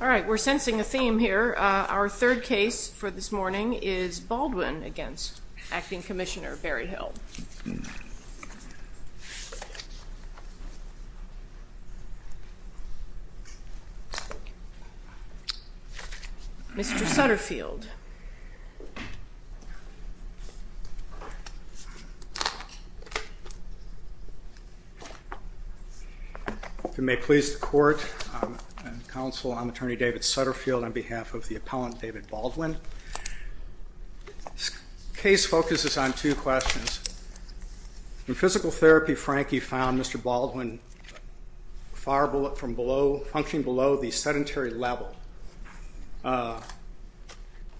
All right, we're sensing a theme here. Our third case for this morning is Baldwin against Acting Commissioner Berryhill. Mr. Sutterfield. If it may please the court and counsel, I'm Attorney David Sutterfield on behalf of the appellant David Baldwin. The case focuses on two questions. In physical therapy, Frankie found Mr. Baldwin functioning below the sedentary level.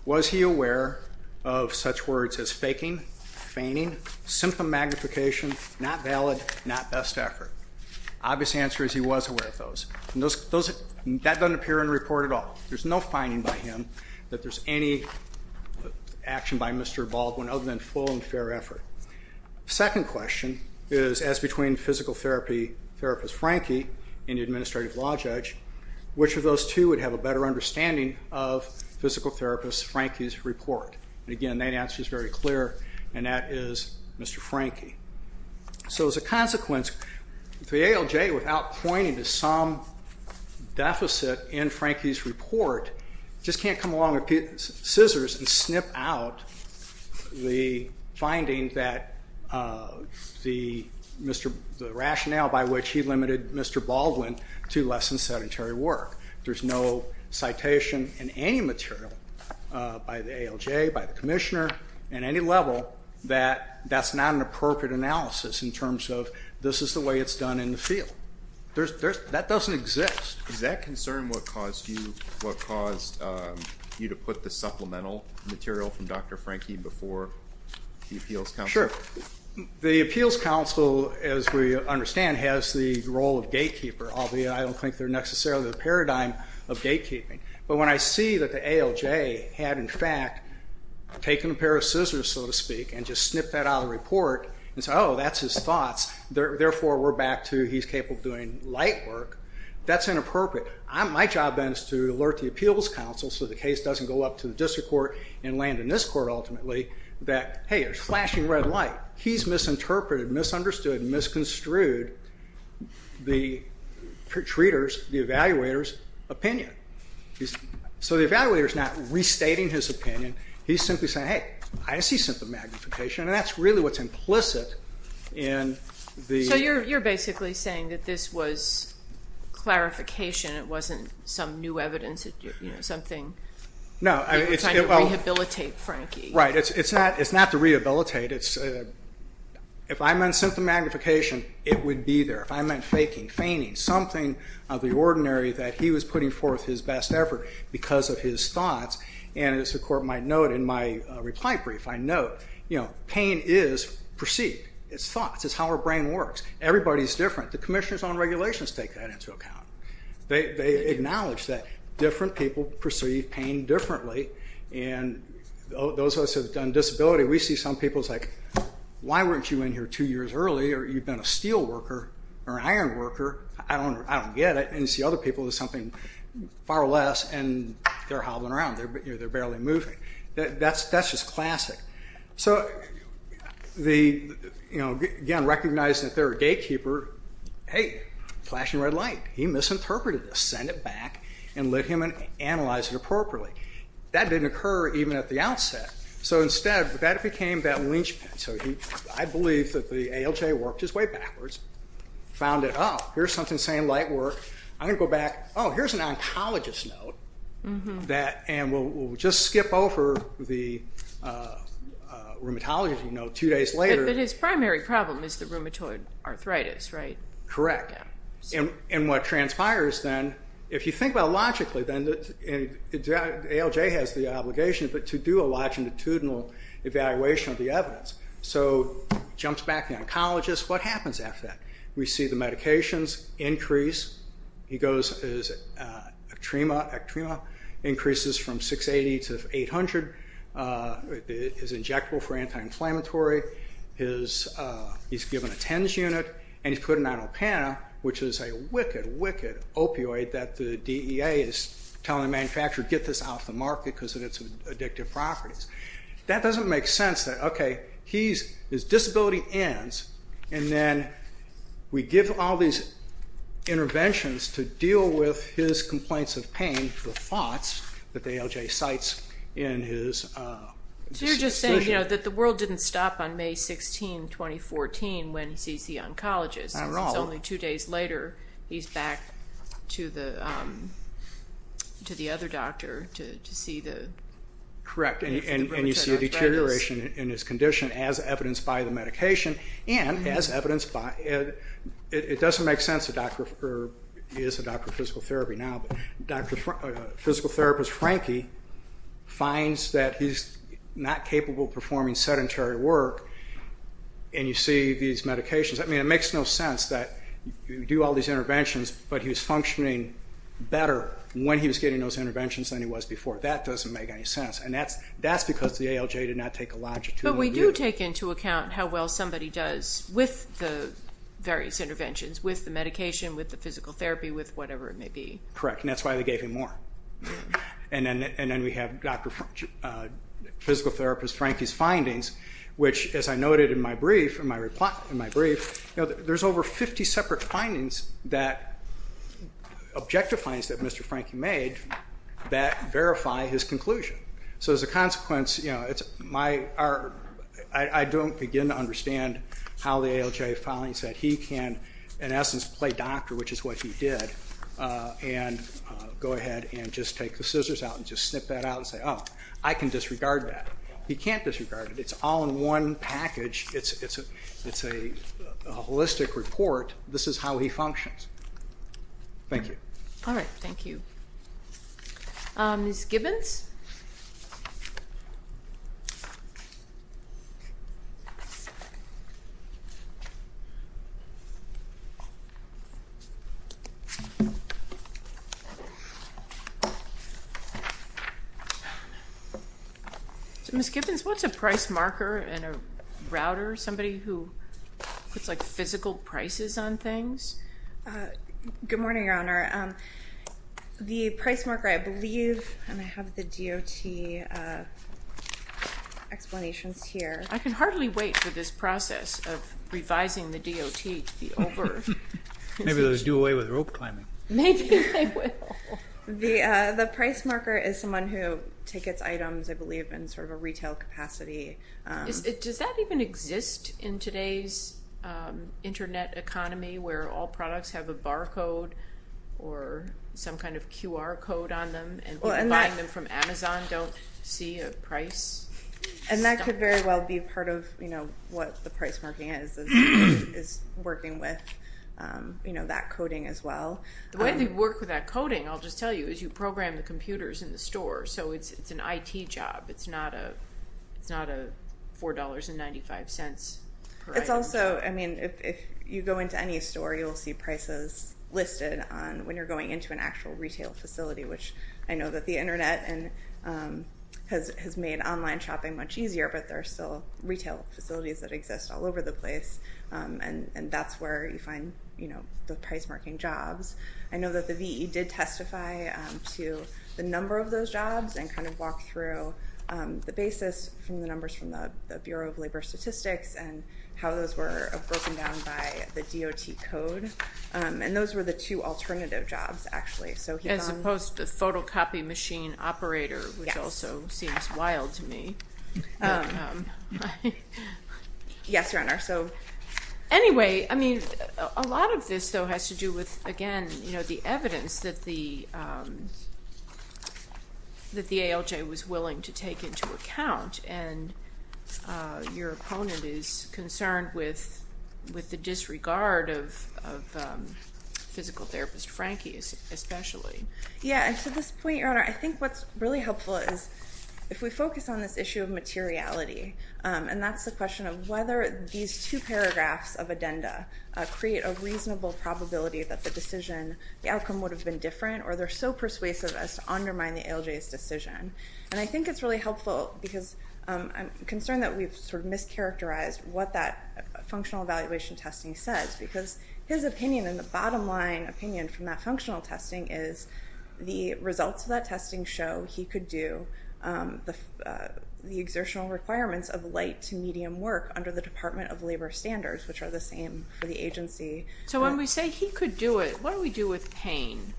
Was he aware of such words as faking, feigning, symptom magnification, not valid, not best effort? Obvious answer is he was aware of those. And that doesn't appear in the report at all. There's no finding by him that there's any action by Mr. Baldwin other than full and fair effort. Second question is, as between physical therapist Frankie and the administrative law judge, which of those two would have a better understanding of physical therapist Frankie's report? And again, that answer is very clear, and that is Mr. Frankie. So as a consequence, the ALJ, without pointing to some deficit in Frankie's report, just can't come along with scissors and snip out the finding that the rationale by which he limited Mr. Baldwin to less than sedentary work. There's no citation in any material by the ALJ, by the commissioner, at any level, that that's not an appropriate analysis in terms of this is the way it's done in the field. That doesn't exist. Is that concern what caused you to put the supplemental material from Dr. Frankie before the appeals council? Sure. The appeals council, as we understand, has the role of gatekeeper. I don't think they're necessarily the paradigm of gatekeeping. But when I see that the ALJ had, in fact, taken a pair of scissors, so to speak, and just snipped that out of the report, and said, oh, that's his thoughts, therefore we're back to he's capable of doing light work, that's inappropriate. My job then is to alert the appeals council so the case doesn't go up to the district court and land in this court, ultimately, that, hey, there's flashing red light. He's misinterpreted, misunderstood, and misconstrued the treater's, the evaluator's, opinion. So the evaluator's not restating his opinion. He's simply saying, hey, I see symptom magnification, and that's really what's implicit in the... So you're basically saying that this was clarification. It wasn't some new evidence, something... No. Trying to rehabilitate Frankie. Right. It's not to rehabilitate. If I meant symptom magnification, it would be there. If I meant faking, feigning, something of the ordinary that he was putting forth his best effort because of his thoughts. And as the court might note in my reply brief, I note pain is perceived. It's thoughts. It's how our brain works. Everybody's different. The commissioners on regulations take that into account. They acknowledge that different people perceive pain differently. And those of us who have done disability, we see some people, it's like, why weren't you in here two years earlier? You've been a steel worker or an iron worker. I don't get it. And you see other people as something far less, and they're hobbling around. They're barely moving. That's just classic. So, again, recognizing that they're a gatekeeper. Hey, flashing red light. He misinterpreted this. And let him analyze it appropriately. That didn't occur even at the outset. So, instead, that became that lynchpin. So, I believe that the ALJ worked his way backwards, found that, oh, here's something saying light work. I'm going to go back. Oh, here's an oncologist note. And we'll just skip over the rheumatology note two days later. But his primary problem is the rheumatoid arthritis, right? Correct. And what transpires then, if you think about it logically, then ALJ has the obligation to do a longitudinal evaluation of the evidence. So, jumps back to the oncologist. What happens after that? We see the medications increase. He goes, his ectrema increases from 680 to 800. It is injectable for anti-inflammatory. He's given a TENS unit. And he's put an inopana, which is a wicked, wicked opioid that the DEA is telling the manufacturer, get this off the market because of its addictive properties. That doesn't make sense that, okay, his disability ends, and then we give him all these interventions to deal with his complaints of pain, the thoughts that the ALJ cites in his decision. So you're just saying, you know, that the world didn't stop on May 16, 2014 when he sees the oncologist. Not at all. It's only two days later he's back to the other doctor to see the rheumatoid arthritis. Correct. And you see a deterioration in his condition as evidenced by the medication and as evidenced by Ed. It doesn't make sense that he is a doctor of physical therapy now. Physical therapist Frankie finds that he's not capable of performing sedentary work, and you see these medications. I mean, it makes no sense that you do all these interventions, but he was functioning better when he was getting those interventions than he was before. That doesn't make any sense. And that's because the ALJ did not take a longitudinal view. But we do take into account how well somebody does with the various interventions, with the medication, with the physical therapy, with whatever it may be. Correct. And that's why they gave him more. And then we have physical therapist Frankie's findings, which, as I noted in my brief, there's over 50 separate findings, objective findings, that Mr. Frankie made that verify his conclusion. So as a consequence, I don't begin to understand how the ALJ finds that he can, in essence, play doctor, which is what he did, and go ahead and just take the scissors out and just snip that out and say, oh, I can disregard that. He can't disregard it. It's all in one package. It's a holistic report. This is how he functions. Thank you. All right. Thank you. Ms. Gibbons? So, Ms. Gibbons, what's a price marker in a router, somebody who puts, like, physical prices on things? The price marker, I believe, and I have the DOT explanations here. I can hardly wait for this process of revising the DOT to be over. Maybe those do away with rope climbing. Maybe they will. The price marker is someone who tickets items, I believe, in sort of a retail capacity. Does that even exist in today's Internet economy where all products have a barcode or some kind of QR code on them and people buying them from Amazon don't see a price? And that could very well be part of, you know, what the price marking is, is working with, you know, that coding as well. The way they work with that coding, I'll just tell you, is you program the computers in the store. So it's an IT job. It's not a $4.95 per item. It's also, I mean, if you go into any store, you'll see prices listed on when you're going into an actual retail facility, which I know that the Internet has made online shopping much easier, but there are still retail facilities that exist all over the place, and that's where you find, you know, the price marking jobs. I know that the VE did testify to the number of those jobs and kind of walk through the basis from the numbers from the Bureau of Labor Statistics and how those were broken down by the DOT code, and those were the two alternative jobs, actually. As opposed to the photocopy machine operator, which also seems wild to me. Yes, Your Honor. Anyway, I mean, a lot of this, though, has to do with, again, you know, the evidence that the ALJ was willing to take into account, and your opponent is concerned with the disregard of physical therapist Frankie, especially. Yeah, and to this point, Your Honor, I think what's really helpful is if we focus on this issue of materiality, and that's the question of whether these two paragraphs of addenda create a reasonable probability that the decision, the outcome would have been different, or they're so persuasive as to undermine the ALJ's decision. And I think it's really helpful because I'm concerned that we've sort of mischaracterized what that functional evaluation testing says, because his opinion and the bottom line opinion from that functional testing is the results of that testing show he could do the exertional requirements of light to medium work under the Department of Labor standards, which are the same for the agency. So when we say he could do it, what do we do with pain?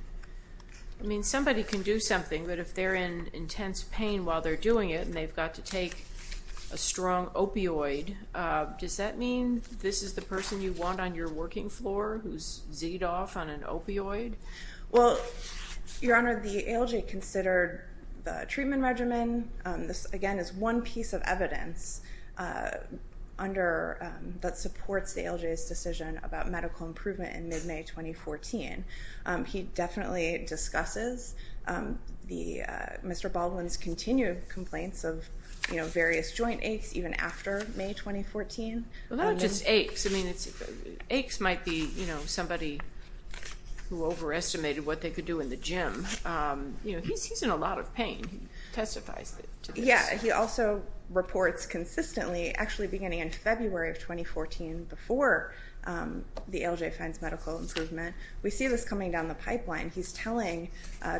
I mean, somebody can do something, but if they're in intense pain while they're doing it and they've got to take a strong opioid, does that mean this is the person you want on your working floor who's z'ed off on an opioid? Well, Your Honor, the ALJ considered the treatment regimen. This, again, is one piece of evidence that supports the ALJ's decision about medical improvement in mid-May 2014. He definitely discusses Mr. Baldwin's continued complaints of various joint aches even after May 2014. Well, not just aches. I mean, aches might be somebody who overestimated what they could do in the gym. He's in a lot of pain. He testifies to this. Yeah. He also reports consistently actually beginning in February of 2014 before the ALJ finds medical improvement. We see this coming down the pipeline. He's telling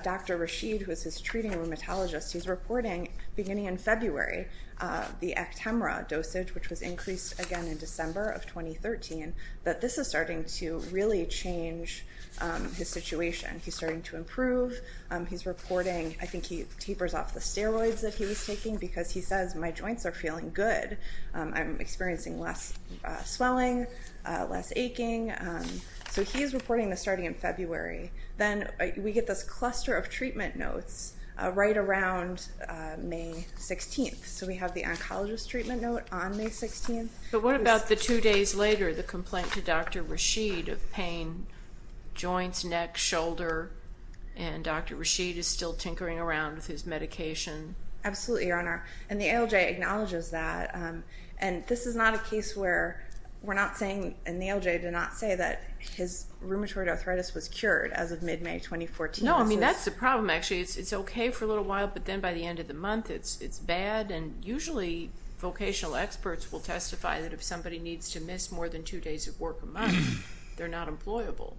Dr. Rashid, who is his treating rheumatologist, he's reporting beginning in February the Actemra dosage, which was increased again in December of 2013, that this is starting to really change his situation. He's starting to improve. He's reporting. I think he tapers off the steroids that he was taking because he says, my joints are feeling good. I'm experiencing less swelling, less aching. So he is reporting this starting in February. Then we get this cluster of treatment notes right around May 16th. So we have the oncologist treatment note on May 16th. But what about the two days later, the complaint to Dr. Rashid of pain, joints, neck, shoulder, and Dr. Rashid is still tinkering around with his medication? Absolutely, Your Honor. And the ALJ acknowledges that. And this is not a case where we're not saying, and the ALJ did not say that his rheumatoid arthritis was cured as of mid-May 2014. No, I mean, that's the problem actually. It's okay for a little while, but then by the end of the month it's bad. And usually vocational experts will testify that if somebody needs to miss more than two days of work a month, they're not employable.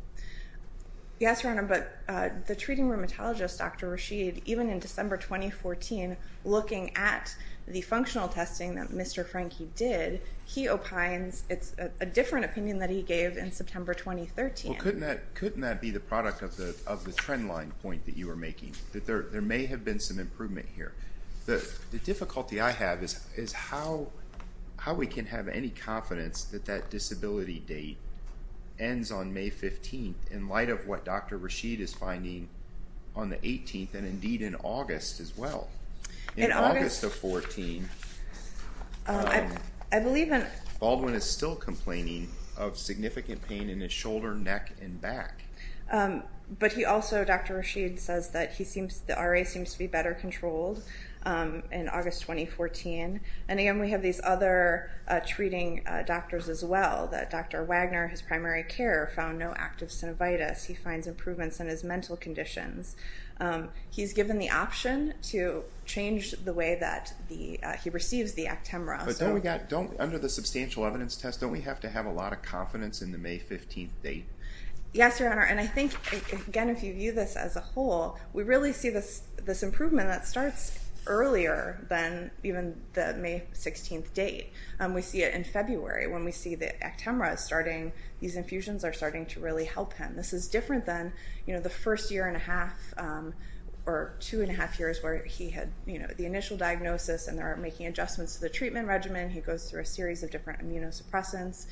Yes, Your Honor, but the treating rheumatologist, Dr. Rashid, even in December 2014 looking at the functional testing that Mr. Frankie did, he opines it's a different opinion that he gave in September 2013. Well, couldn't that be the product of the trend line point that you were making, that there may have been some improvement here? The difficulty I have is how we can have any confidence that that disability date ends on May 15th in light of what Dr. Rashid is finding on the 18th and indeed in August as well. In August of 14, Baldwin is still complaining of significant pain in his shoulder, neck, and back. But he also, Dr. Rashid says that the RA seems to be better controlled in August 2014. And again, we have these other treating doctors as well, that Dr. Wagner, his primary care, found no active synovitis. He finds improvements in his mental conditions. He's given the option to change the way that he receives the Actemra. But under the substantial evidence test, don't we have to have a lot of confidence in the May 15th date? Yes, Your Honor. And I think, again, if you view this as a whole, we really see this improvement that starts earlier than even the May 16th date. We see it in February when we see the Actemra starting. These infusions are starting to really help him. This is different than the first year and a half or two and a half years where he had the initial diagnosis and they're making adjustments to the treatment regimen. He goes through a series of different immunosuppressants.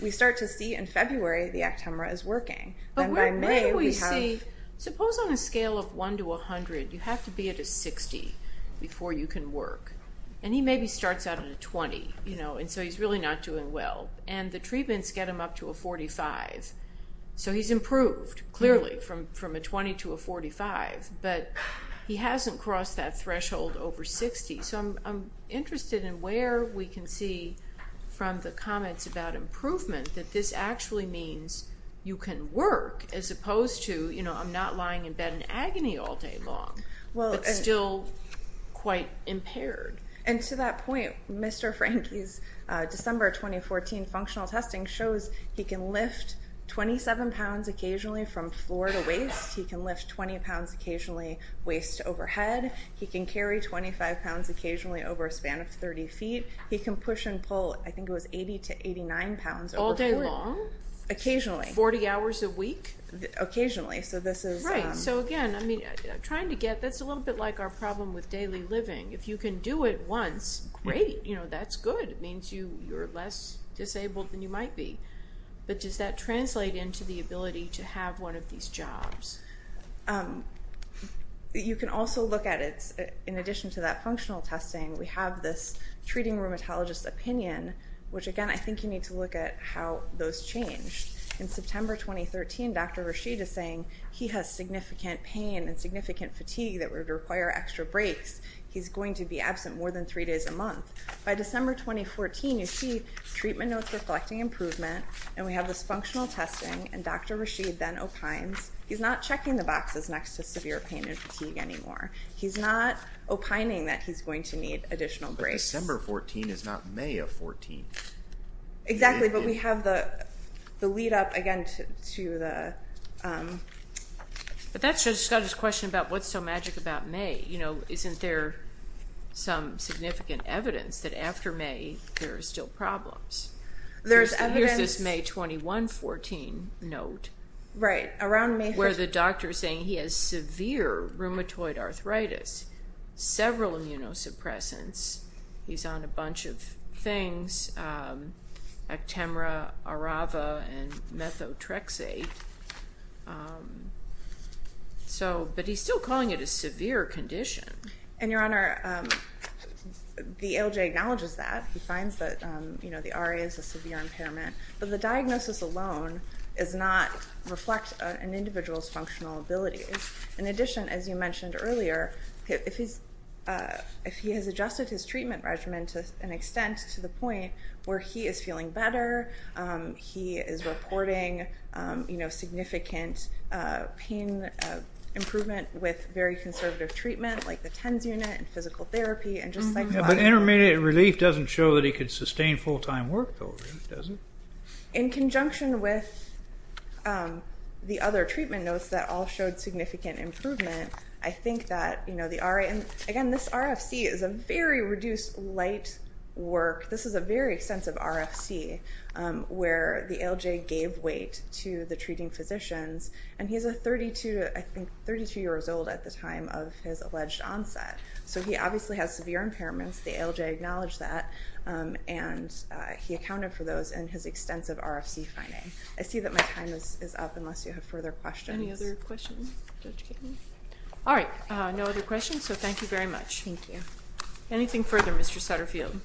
We start to see in February the Actemra is working. But where do we see, suppose on a scale of 1 to 100, you have to be at a 60 before you can work. And he maybe starts out at a 20, and so he's really not doing well. And the treatments get him up to a 45. So he's improved, clearly, from a 20 to a 45. But he hasn't crossed that threshold over 60. So I'm interested in where we can see from the comments about improvement that this actually means you can work as opposed to, you know, I'm not lying in bed in agony all day long but still quite impaired. And to that point, Mr. Franke's December 2014 functional testing shows he can lift 27 pounds occasionally from floor to waist. He can lift 20 pounds occasionally waist to overhead. He can carry 25 pounds occasionally over a span of 30 feet. He can push and pull, I think it was 80 to 89 pounds. All day long? Occasionally. 40 hours a week? Occasionally. Right. So again, I mean, trying to get, that's a little bit like our problem with daily living. If you can do it once, great. You know, that's good. It means you're less disabled than you might be. But does that translate into the ability to have one of these jobs? You can also look at it, in addition to that functional testing, we have this treating rheumatologist opinion, which again, I think you need to look at how those change. In September 2013, Dr. Rashid is saying he has significant pain and significant fatigue that would require extra breaks. He's going to be absent more than three days a month. By December 2014, you see treatment notes reflecting improvement, and we have this functional testing, and Dr. Rashid then opines he's not checking the boxes next to severe pain and fatigue anymore. He's not opining that he's going to need additional breaks. But December 14 is not May of 14. Exactly. But we have the lead up, again, to the... But that's just a question about what's so magic about May. You know, isn't there some significant evidence that after May there are still problems? There's evidence. Here's this May 21, 14 note. Right. Where the doctor is saying he has severe rheumatoid arthritis, several immunosuppressants. He's on a bunch of things, Actemra, Arava, and methotrexate. But he's still calling it a severe condition. And, Your Honor, the ALJ acknowledges that. He finds that the RA is a severe impairment. But the diagnosis alone does not reflect an individual's functional abilities. In addition, as you mentioned earlier, if he has adjusted his treatment regimen to an extent to the point where he is feeling better, he is reporting significant pain improvement with very conservative treatment, like the TENS unit and physical therapy. But intermediate relief doesn't show that he could sustain full-time work, does it? In conjunction with the other treatment notes that all showed significant improvement, I think that the RA and, again, this RFC is a very reduced, light work. This is a very extensive RFC where the ALJ gave weight to the treating physicians. And he's 32 years old at the time of his alleged onset. So he obviously has severe impairments. The ALJ acknowledged that. And he accounted for those in his extensive RFC finding. I see that my time is up unless you have further questions. Any other questions? All right. No other questions, so thank you very much. Thank you. Anything further, Mr. Sutterfield?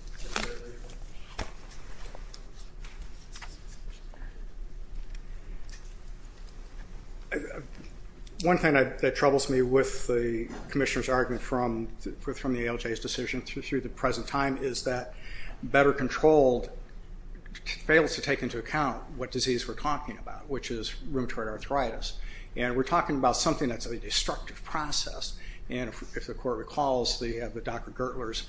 One thing that troubles me with the commissioner's argument from the ALJ's decision through the present time is that better controlled fails to take into account what disease we're talking about, which is rheumatoid arthritis. And we're talking about something that's a destructive process. And if the court recalls the Dr. Gertler's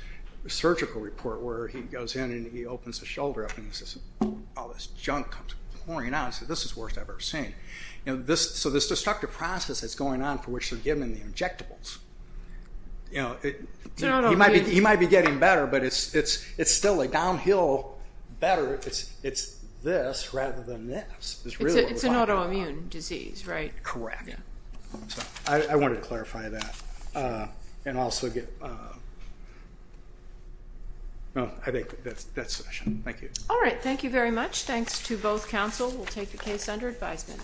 surgical report where he goes in and he opens his shoulder up and he says, all this junk comes pouring out and says, this is the worst I've ever seen. So this destructive process that's going on for which they're giving the injectables, he might be getting better, but it's still a downhill better. It's this rather than this. It's an autoimmune disease, right? Correct. I wanted to clarify that. All right. Thank you very much. Thanks to both counsel. We'll take the case under advisement.